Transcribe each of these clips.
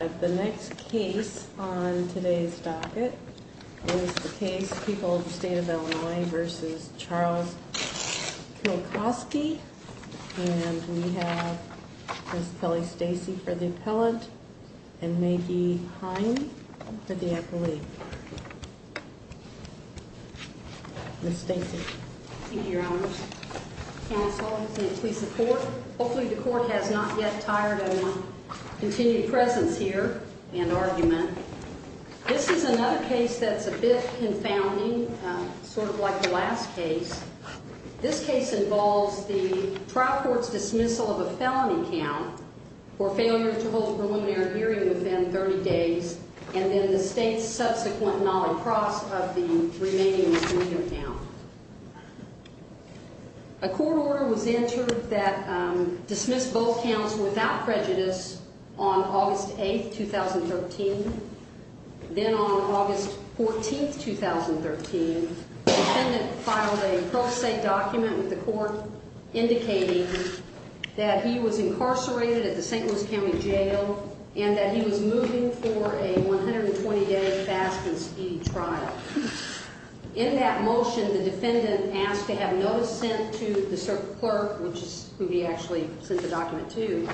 The next case on today's docket is the case People of the State of Illinois v. Charles Kilcauski, and we have Ms. Kelly Stacey for the appellant, and Maggie Hine for the appellee. Ms. Stacey. Thank you, Your Honors. Counsel, and please support. Hopefully the court has not yet tired of continued presence here and argument. This is another case that's a bit confounding, sort of like the last case. This case involves the trial court's dismissal of a felony count for failure to hold a preliminary hearing within 30 days, and then the state's subsequent not-across of the remaining misdemeanor count. A court order was entered that dismissed both counts without prejudice on August 8, 2013. Then on August 14, 2013, the defendant filed a pro se document with the court indicating that he was incarcerated at the St. Louis County Jail and that he was moving for a 120-day fast and speedy trial. In that motion, the defendant asked to have notice sent to the clerk, who he actually sent the document to,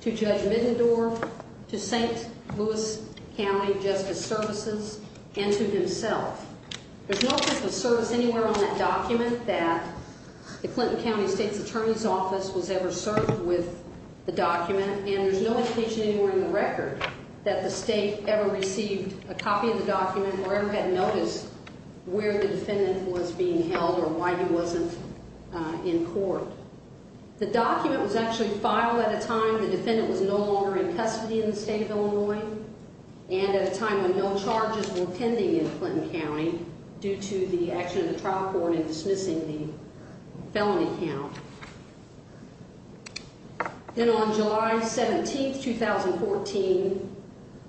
to Judge Middendorf, to St. Louis County Justice Services, and to himself. There's no official service anywhere on that document that the Clinton County State's Attorney's Office was ever served with the document, and there's no indication anywhere in the record that the state ever received a copy of the document or ever had notice where the defendant was being held or why he wasn't in court. The document was actually filed at a time the defendant was no longer in custody in the state of Illinois and at a time when no charges were pending in Clinton County due to the action of the trial court in dismissing the felony count. Then on July 17, 2014,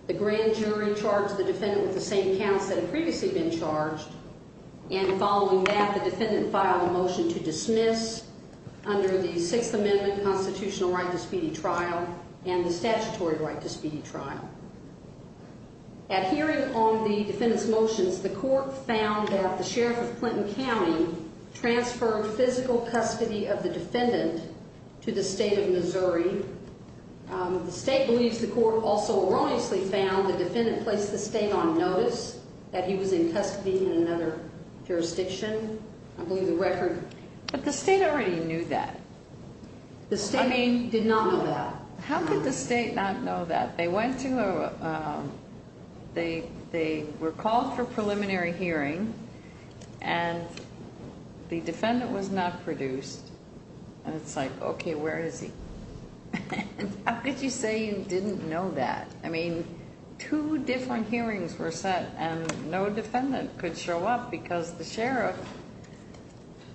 the grand jury charged the defendant with the same counts that had previously been charged, and following that, the defendant filed a motion to dismiss under the Sixth Amendment constitutional right to speedy trial and the statutory right to speedy trial. At hearing on the defendant's motions, the court found that the sheriff of Clinton County transferred physical custody of the defendant to the state of Missouri. The state believes the court also erroneously found the defendant placed the state on notice that he was in custody in another jurisdiction. I believe the record... But the state already knew that. The state did not know that. How could the state not know that? They went to a... They were called for preliminary hearing, and the defendant was not produced. And it's like, okay, where is he? How could you say you didn't know that? I mean, two different hearings were set, and no defendant could show up because the sheriff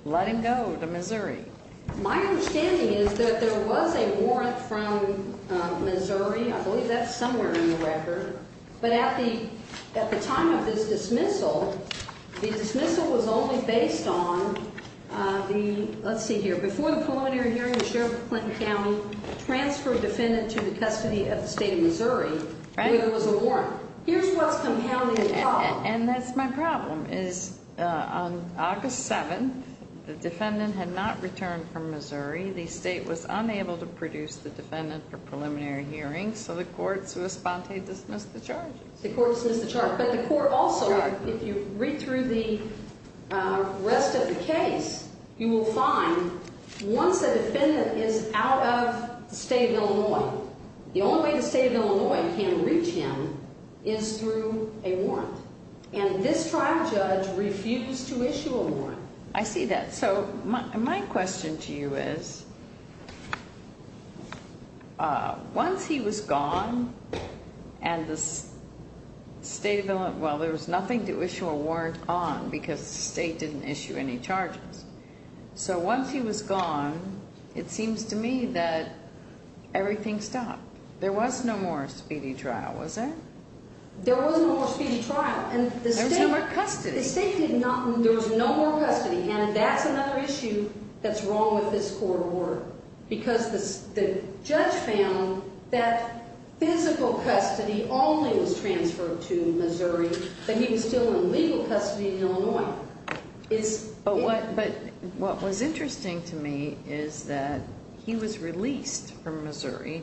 let him go to Missouri. My understanding is that there was a warrant from Missouri. I believe that's somewhere in the record. But at the time of his dismissal, the dismissal was only based on the... Let's see here. Before the preliminary hearing, the sheriff of Clinton County transferred the defendant to the custody of the state of Missouri, where there was a warrant. Here's what's compounding the problem. And that's my problem, is on August 7th, the defendant had not returned from Missouri. The state was unable to produce the defendant for preliminary hearing, so the courts responded to dismiss the charges. The courts dismissed the charges. But the court also, if you read through the rest of the case, you will find once a defendant is out of the state of Illinois, the only way the state of Illinois can reach him is through a warrant. And this trial judge refused to issue a warrant. I see that. So my question to you is, once he was gone and the state of Illinois... Well, there was nothing to issue a warrant on because the state didn't issue any charges. So once he was gone, it seems to me that everything stopped. There was no more speedy trial, was there? There was no more speedy trial. There was no more custody. The state did not... There was no more custody. And that's another issue that's wrong with this court of order, because the judge found that physical custody only was transferred to Missouri, that he was still in legal custody in Illinois. But what was interesting to me is that he was released from Missouri,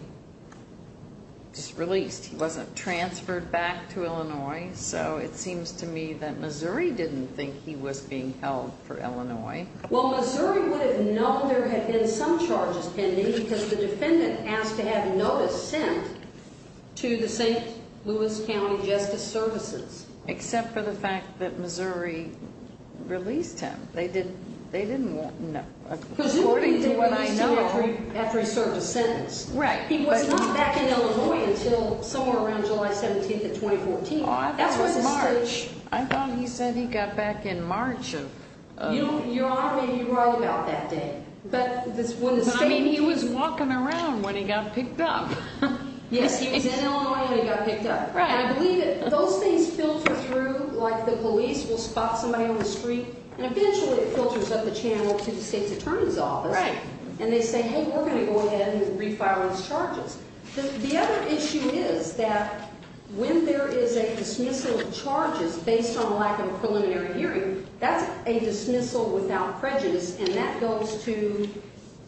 just released. He wasn't transferred back to Illinois. So it seems to me that Missouri didn't think he was being held for Illinois. Well, Missouri would have known there had been some charges pending because the defendant asked to have notice sent to the St. Louis County Justice Services. Except for the fact that Missouri released him. They didn't know. According to what I know... Because he wasn't released until after he served his sentence. Right. He was not back in Illinois until somewhere around July 17th of 2014. Oh, I thought it was March. I thought he said he got back in March of... Your Honor, maybe you're right about that date. But when the state... I mean, he was walking around when he got picked up. Yes, he was in Illinois when he got picked up. Right. And I believe that those things filter through like the police will spot somebody on the street. And eventually it filters up the channel to the state's attorney's office. Right. And they say, hey, we're going to go ahead and refile these charges. The other issue is that when there is a dismissal of charges based on lack of a preliminary hearing, that's a dismissal without prejudice. And that goes to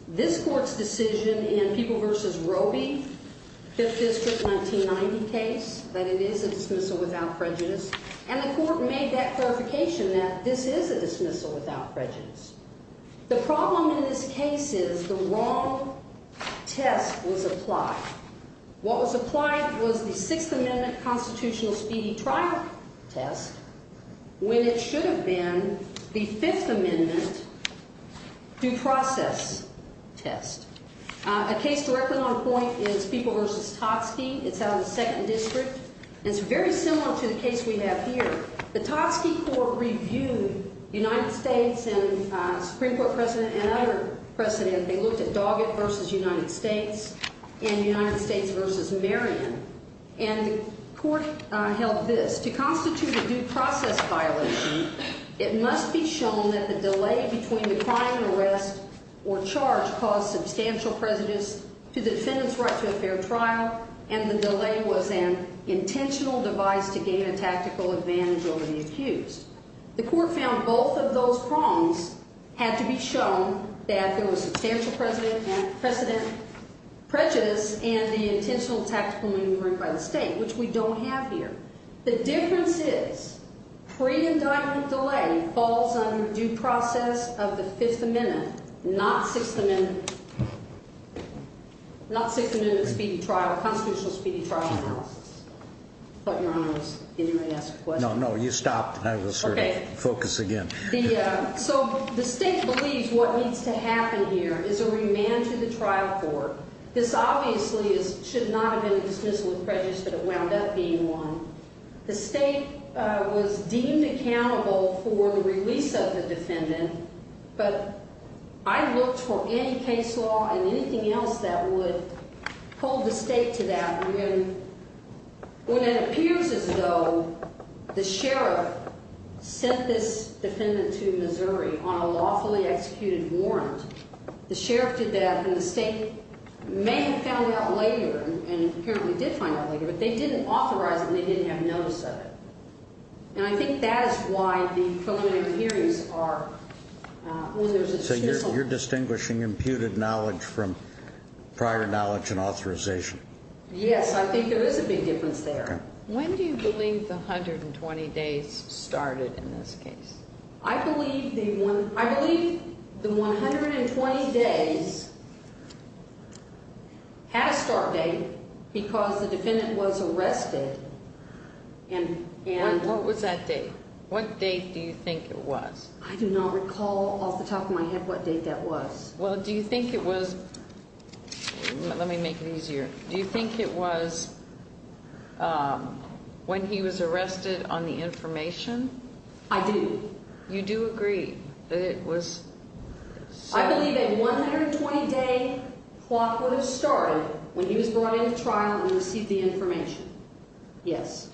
this court's decision in People v. Roby, 5th District 1990 case, that it is a dismissal without prejudice. And the court made that clarification that this is a dismissal without prejudice. The problem in this case is the wrong test was applied. What was applied was the 6th Amendment constitutional speedy trial test when it should have been the 5th Amendment due process test. A case directly on point is People v. Totski. It's out of the 2nd District. And it's very similar to the case we have here. The Totski court reviewed United States and Supreme Court precedent and other precedent. They looked at Doggett v. United States and United States v. Marion. And the court held this. To constitute a due process violation, it must be shown that the delay between the crime and arrest or charge caused substantial prejudice to the defendant's right to a fair trial. And the delay was an intentional device to gain a tactical advantage over the accused. The court found both of those prongs had to be shown that there was substantial precedent, prejudice, and the intentional tactical maneuvering by the state, which we don't have here. The difference is pre-indictment delay falls under due process of the 5th Amendment, not 6th Amendment, not 6th Amendment speedy trial, constitutional speedy trial analysis. I thought Your Honor was going to ask a question. No, no, you stopped. I was sort of focused again. So the state believes what needs to happen here is a remand to the trial court. This obviously should not have been dismissed with prejudice, but it wound up being one. The state was deemed accountable for the release of the defendant. But I looked for any case law and anything else that would hold the state to that. And when it appears as though the sheriff sent this defendant to Missouri on a lawfully executed warrant, the sheriff did that. And the state may have found out later and apparently did find out later, but they didn't authorize it and they didn't have notice of it. And I think that is why the preliminary hearings are when there's a schism. So you're distinguishing imputed knowledge from prior knowledge and authorization? Yes, I think there is a big difference there. When do you believe the 120 days started in this case? I believe the 120 days had a start date because the defendant was arrested. What was that date? What date do you think it was? I do not recall off the top of my head what date that was. Well, do you think it was, let me make it easier, do you think it was when he was arrested on the information? I do. You do agree that it was? I believe a 120 day clock would have started when he was brought into trial and received the information. Yes.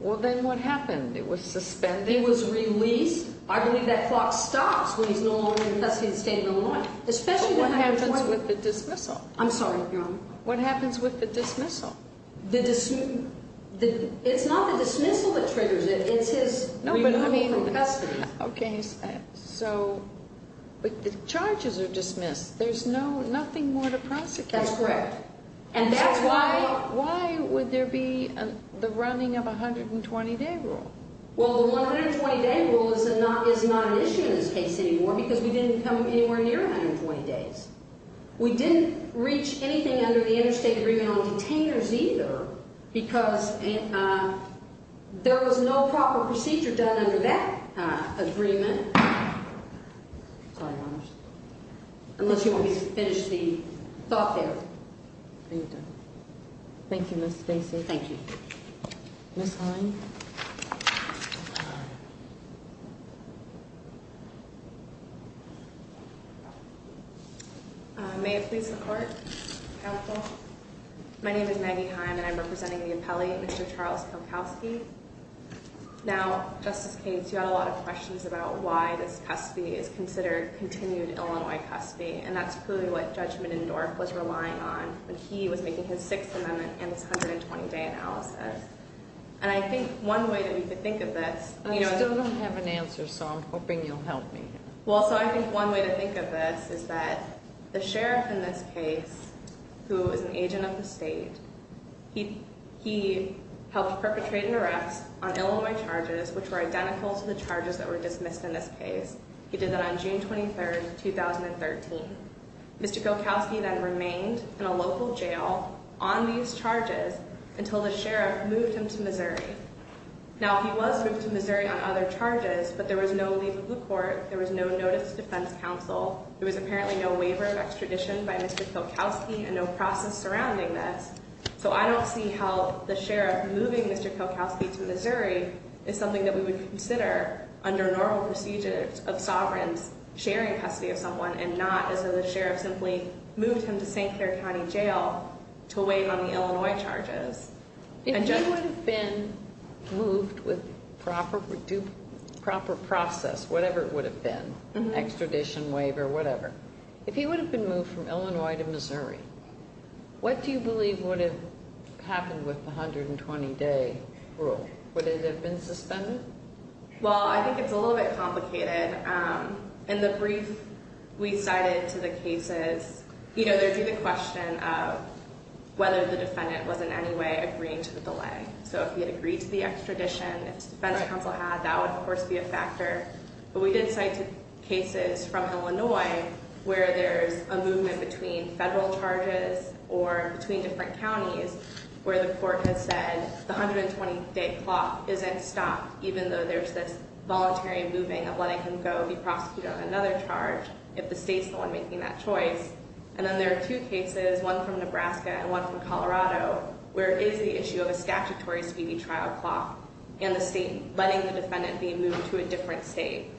Well, then what happened? It was suspended? He was released. I believe that clock stops when he's no longer in custody in the state of Illinois. But what happens with the dismissal? I'm sorry, Your Honor. What happens with the dismissal? It's not the dismissal that triggers it. It's his removal from custody. Okay, so the charges are dismissed. There's nothing more to prosecute. That's correct. Why would there be the running of a 120 day rule? Well, the 120 day rule is not an issue in this case anymore because we didn't come anywhere near 120 days. We didn't reach anything under the interstate agreement on detainers either because there was no proper procedure done under that agreement. Sorry, Your Honor. Unless you want me to finish the thought there. Are you done? Thank you, Ms. Stacy. Thank you. Ms. Hine. May it please the Court. Counsel. My name is Maggie Hine and I'm representing the appellee, Mr. Charles Kalkowski. Now, Justice Cates, you had a lot of questions about why this custody is considered continued Illinois custody. And that's clearly what Judge Menendorf was relying on when he was making his Sixth Amendment and his 120 day analysis. And I think one way that we could think of this. I still don't have an answer, so I'm hoping you'll help me. Well, so I think one way to think of this is that the sheriff in this case, who is an agent of the state, he helped perpetrate an arrest on Illinois charges which were identical to the charges that were dismissed in this case. He did that on June 23, 2013. Mr. Kalkowski then remained in a local jail on these charges until the sheriff moved him to Missouri. Now, he was moved to Missouri on other charges, but there was no legal court. There was no notice to defense counsel. There was apparently no waiver of extradition by Mr. Kalkowski and no process surrounding this. So I don't see how the sheriff moving Mr. Kalkowski to Missouri is something that we would consider under normal procedures of sovereigns sharing custody of someone and not as though the sheriff simply moved him to St. Clair County Jail to wait on the Illinois charges. If he would have been moved with proper process, whatever it would have been, extradition, waiver, whatever, if he would have been moved from Illinois to Missouri, what do you believe would have happened with the 120-day rule? Would it have been suspended? Well, I think it's a little bit complicated. In the brief we cited to the cases, you know, there'd be the question of whether the defendant was in any way agreeing to the delay. So if he had agreed to the extradition, if defense counsel had, that would, of course, be a factor. But we did cite cases from Illinois where there's a movement between federal charges or between different counties where the court has said the 120-day clock isn't stopped, even though there's this voluntary moving of letting him go be prosecuted on another charge if the state's the one making that choice. And then there are two cases, one from Nebraska and one from Colorado, where it is the issue of a statutory speedy trial clock and the state letting the defendant be moved to a different state.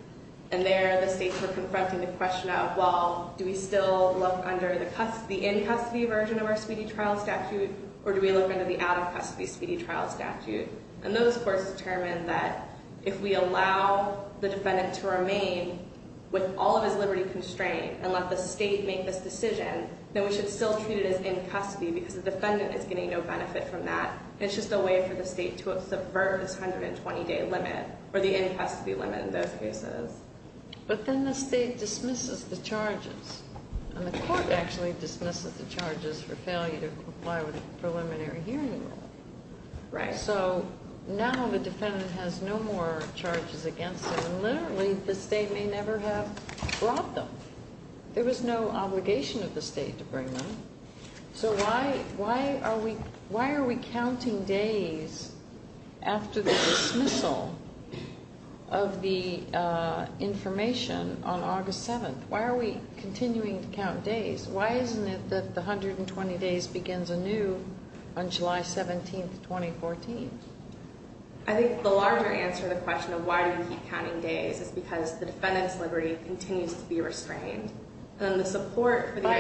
And there the states were confronting the question of, well, do we still look under the in-custody version of our speedy trial statute or do we look under the out-of-custody speedy trial statute? And those courts determined that if we allow the defendant to remain with all of his liberty constrained and let the state make this decision, then we should still treat it as in-custody because the defendant is getting no benefit from that. It's just a way for the state to subvert this 120-day limit or the in-custody limit in those cases. But then the state dismisses the charges, and the court actually dismisses the charges for failure to comply with the preliminary hearing rule. So now the defendant has no more charges against him, and literally the state may never have brought them. There was no obligation of the state to bring them. So why are we counting days after the dismissal of the information on August 7th? Why are we continuing to count days? Why isn't it that the 120 days begins anew on July 17th, 2014? I think the larger answer to the question of why do we keep counting days is because the defendant's liberty continues to be restrained. By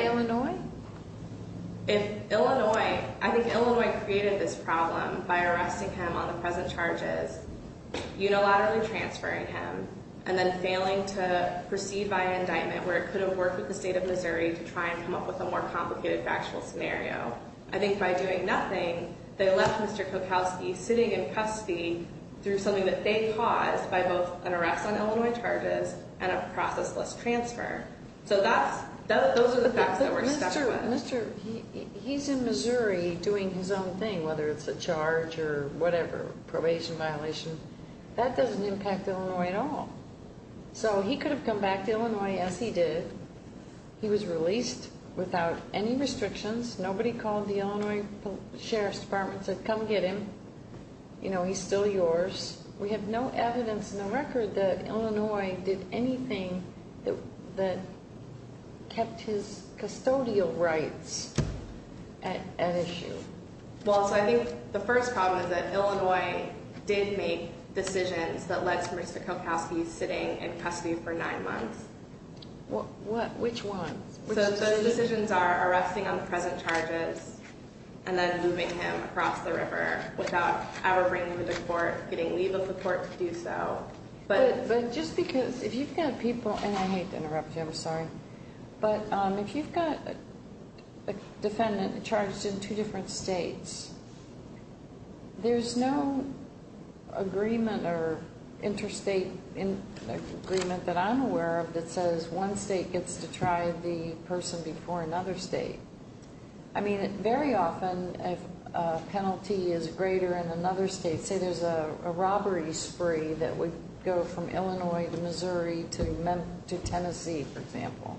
Illinois? I think Illinois created this problem by arresting him on the present charges, unilaterally transferring him, and then failing to proceed via indictment where it could have worked with the state of Missouri to try and come up with a more complicated factual scenario. I think by doing nothing, they left Mr. Kokowski sitting in custody through something that they caused by both an arrest on Illinois charges and a process-less transfer. So those are the facts that we're stuck with. He's in Missouri doing his own thing, whether it's a charge or whatever, probation violation. That doesn't impact Illinois at all. So he could have come back to Illinois as he did. He was released without any restrictions. Nobody called the Illinois Sheriff's Department and said, come get him. He's still yours. We have no evidence in the record that Illinois did anything that kept his custodial rights at issue. Well, so I think the first problem is that Illinois did make decisions that led to Mr. Kokowski sitting in custody for nine months. Which ones? So those decisions are arresting on the present charges and then moving him across the river without ever bringing him to court, getting leave of the court to do so. But just because if you've got people—and I hate to interrupt you, I'm sorry. But if you've got a defendant charged in two different states, there's no agreement or interstate agreement that I'm aware of that says one state gets to try the person before another state. I mean, very often a penalty is greater in another state. Say there's a robbery spree that would go from Illinois to Missouri to Tennessee, for example.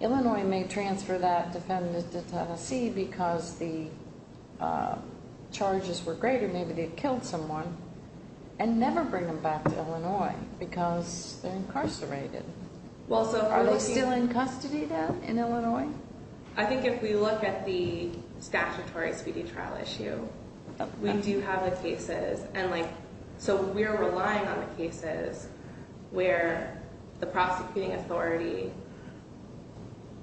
Illinois may transfer that defendant to Tennessee because the charges were greater. Maybe they killed someone and never bring them back to Illinois because they're incarcerated. Are they still in custody, though, in Illinois? I think if we look at the statutory speedy trial issue, we do have the cases. And so we're relying on the cases where the prosecuting authority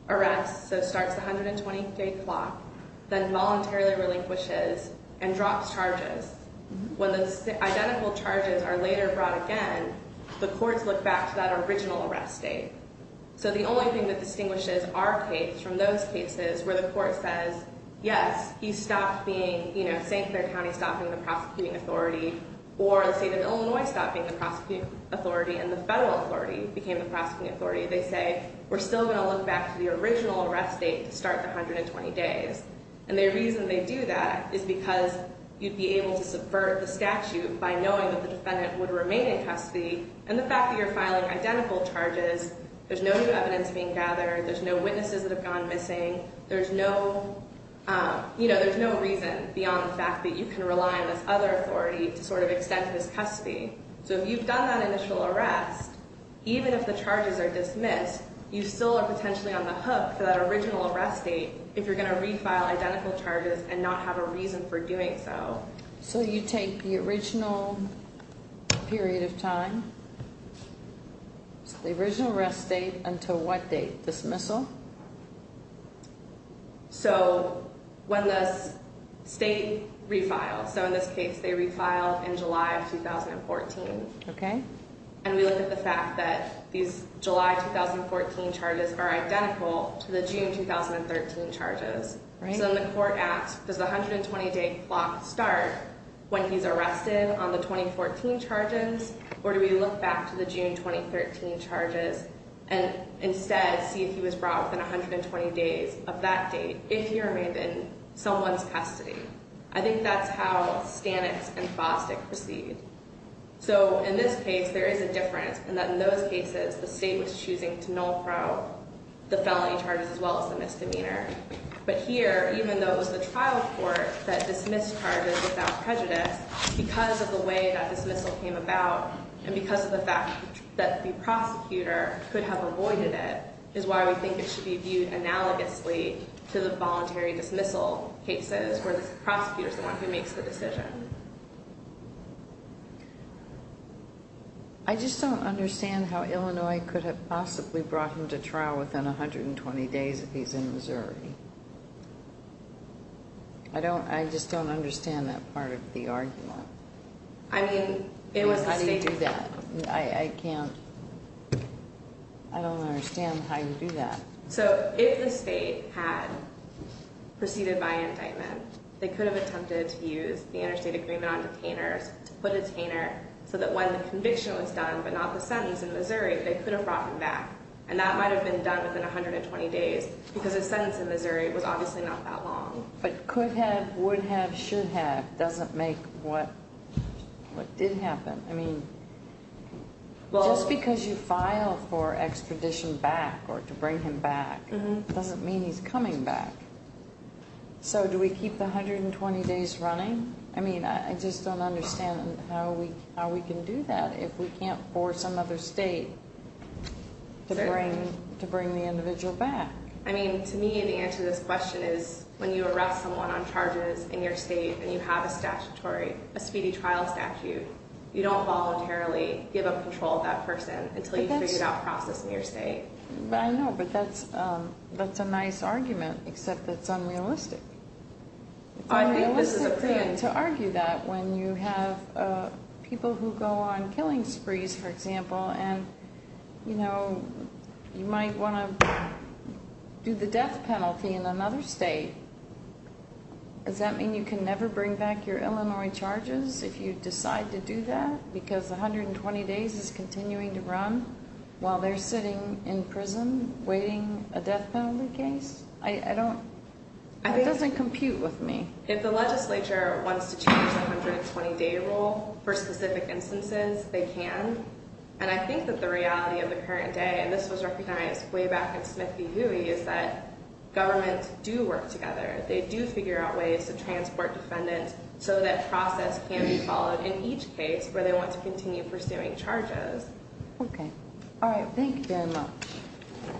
arrests, so it starts at 123 o'clock, then voluntarily relinquishes and drops charges. When those identical charges are later brought again, the courts look back to that original arrest date. So the only thing that distinguishes our case from those cases where the court says, yes, you stopped being—you know, St. Clair County stopped being the prosecuting authority, or the state of Illinois stopped being the prosecuting authority, and the federal authority became the prosecuting authority. They say, we're still going to look back to the original arrest date to start the 120 days. And the reason they do that is because you'd be able to subvert the statute by knowing that the defendant would remain in custody, and the fact that you're filing identical charges, there's no new evidence being gathered, there's no witnesses that have gone missing, there's no—you know, there's no reason beyond the fact that you can rely on this other authority to sort of extend his custody. So if you've done that initial arrest, even if the charges are dismissed, you still are potentially on the hook for that original arrest date if you're going to refile identical charges and not have a reason for doing so. So you take the original period of time, the original arrest date, until what date? Dismissal? So when the state refiles—so in this case, they refiled in July of 2014. Okay. And we look at the fact that these July 2014 charges are identical to the June 2013 charges. Right. So then the court asks, does the 120-day clock start when he's arrested on the 2014 charges, or do we look back to the June 2013 charges and instead see if he was brought within 120 days of that date, if he remained in someone's custody? I think that's how Stanix and Fostick proceed. So in this case, there is a difference in that in those cases, the state was choosing to null-probe the felony charges as well as the misdemeanor. But here, even though it was the trial court that dismissed charges without prejudice, because of the way that dismissal came about and because of the fact that the prosecutor could have avoided it is why we think it should be viewed analogously to the voluntary dismissal cases where the prosecutor is the one who makes the decision. I just don't understand how Illinois could have possibly brought him to trial within 120 days if he's in Missouri. I don't—I just don't understand that part of the argument. I mean, it was the state— How do you do that? I can't—I don't understand how you do that. So if the state had proceeded by indictment, they could have attempted to use the interstate agreement on detainers to put a detainer so that when the conviction was done but not the sentence in Missouri, they could have brought him back. And that might have been done within 120 days because his sentence in Missouri was obviously not that long. But could have, would have, should have doesn't make what did happen. I mean, just because you file for expedition back or to bring him back doesn't mean he's coming back. So do we keep the 120 days running? I mean, I just don't understand how we can do that if we can't force some other state to bring the individual back. I mean, to me, the answer to this question is when you arrest someone on charges in your state and you have a statutory, a speedy trial statute, you don't voluntarily give up control of that person until you figure out a process in your state. I know, but that's a nice argument, except it's unrealistic. It's unrealistic to argue that when you have people who go on killing sprees, for example, and, you know, you might want to do the death penalty in another state. Does that mean you can never bring back your Illinois charges if you decide to do that because 120 days is continuing to run while they're sitting in prison waiting a death penalty case? It doesn't compute with me. If the legislature wants to change the 120-day rule for specific instances, they can. And I think that the reality of the current day, and this was recognized way back in Smith v. Huey, is that governments do work together. They do figure out ways to transport defendants so that process can be followed in each case where they want to continue pursuing charges. Okay. All right. Thank you very much.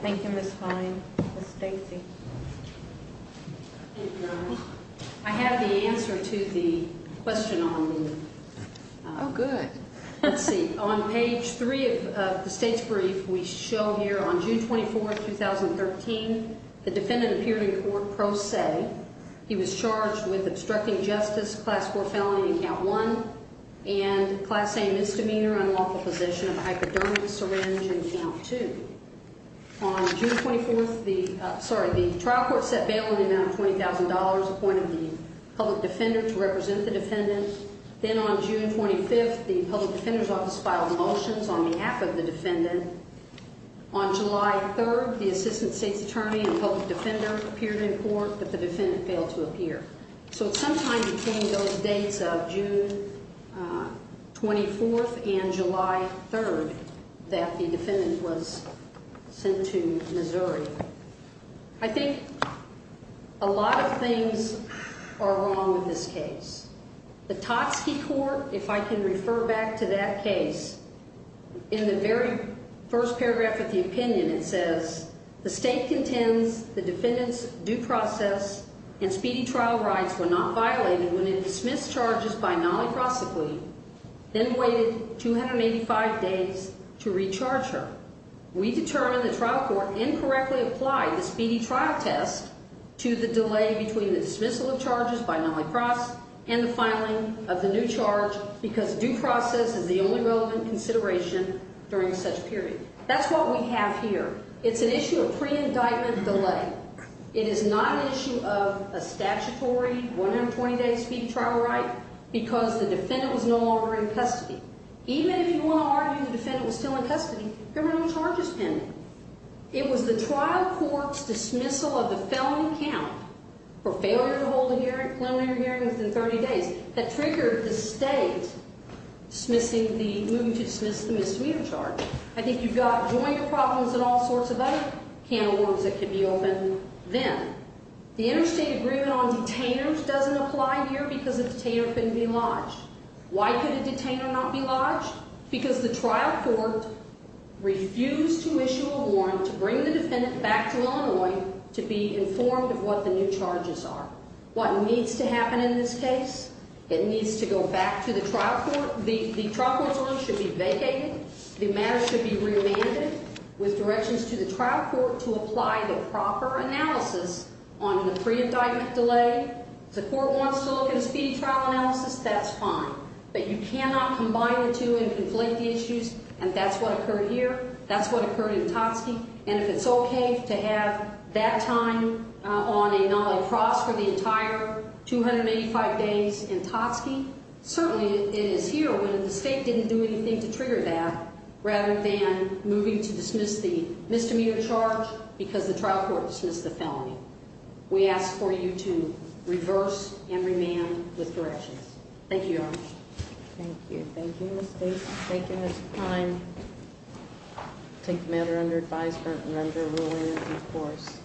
Thank you, Ms. Fine. Ms. Stacy. I have the answer to the question on me. Oh, good. Let's see. On page 3 of the state's brief, we show here on June 24, 2013, the defendant appeared in court pro se. He was charged with obstructing justice, class 4 felony in count 1, and class A misdemeanor, unlawful possession of a hypodermic syringe in count 2. On June 24th, the trial court set bail in the amount of $20,000, appointed the public defender to represent the defendant. Then on June 25th, the public defender's office filed motions on behalf of the defendant. On July 3rd, the assistant state's attorney and public defender appeared in court, but the defendant failed to appear. So it sometime became those dates of June 24th and July 3rd that the defendant was sent to Missouri. I think a lot of things are wrong with this case. The Totski court, if I can refer back to that case, in the very first paragraph of the opinion, it says, The state contends the defendant's due process and speedy trial rights were not violated when it dismissed charges by Mollie Crossley, then waited 285 days to recharge her. We determine the trial court incorrectly applied the speedy trial test to the delay between the dismissal of charges by Mollie Cross and the filing of the new charge because due process is the only relevant consideration during such a period. That's what we have here. It's an issue of pre-indictment delay. It is not an issue of a statutory 120-day speedy trial right because the defendant was no longer in custody. Even if you want to argue the defendant was still in custody, criminal charges pending. It was the trial court's dismissal of the felony count for failure to hold a preliminary hearing within 30 days that triggered the state moving to dismiss the misdemeanor charge. I think you've got joint problems and all sorts of other can of worms that could be open then. The interstate agreement on detainers doesn't apply here because a detainer couldn't be lodged. Why could a detainer not be lodged? Because the trial court refused to issue a warrant to bring the defendant back to Illinois to be informed of what the new charges are. What needs to happen in this case? It needs to go back to the trial court. The trial court's room should be vacated. The matter should be remanded with directions to the trial court to apply the proper analysis on the pre-indictment delay. If the court wants to look at a speedy trial analysis, that's fine. But you cannot combine the two and conflict the issues, and that's what occurred here. That's what occurred in Totski. And if it's okay to have that time on a non-laprosse for the entire 285 days in Totski, certainly it is here when the state didn't do anything to trigger that rather than moving to dismiss the misdemeanor charge because the trial court dismissed the felony. We ask for you to reverse and remand with directions. Thank you, Your Honor. Thank you. Thank you, Ms. Bates. Thank you, Mr. Klein. Take the matter under advisement and render a ruling in due course.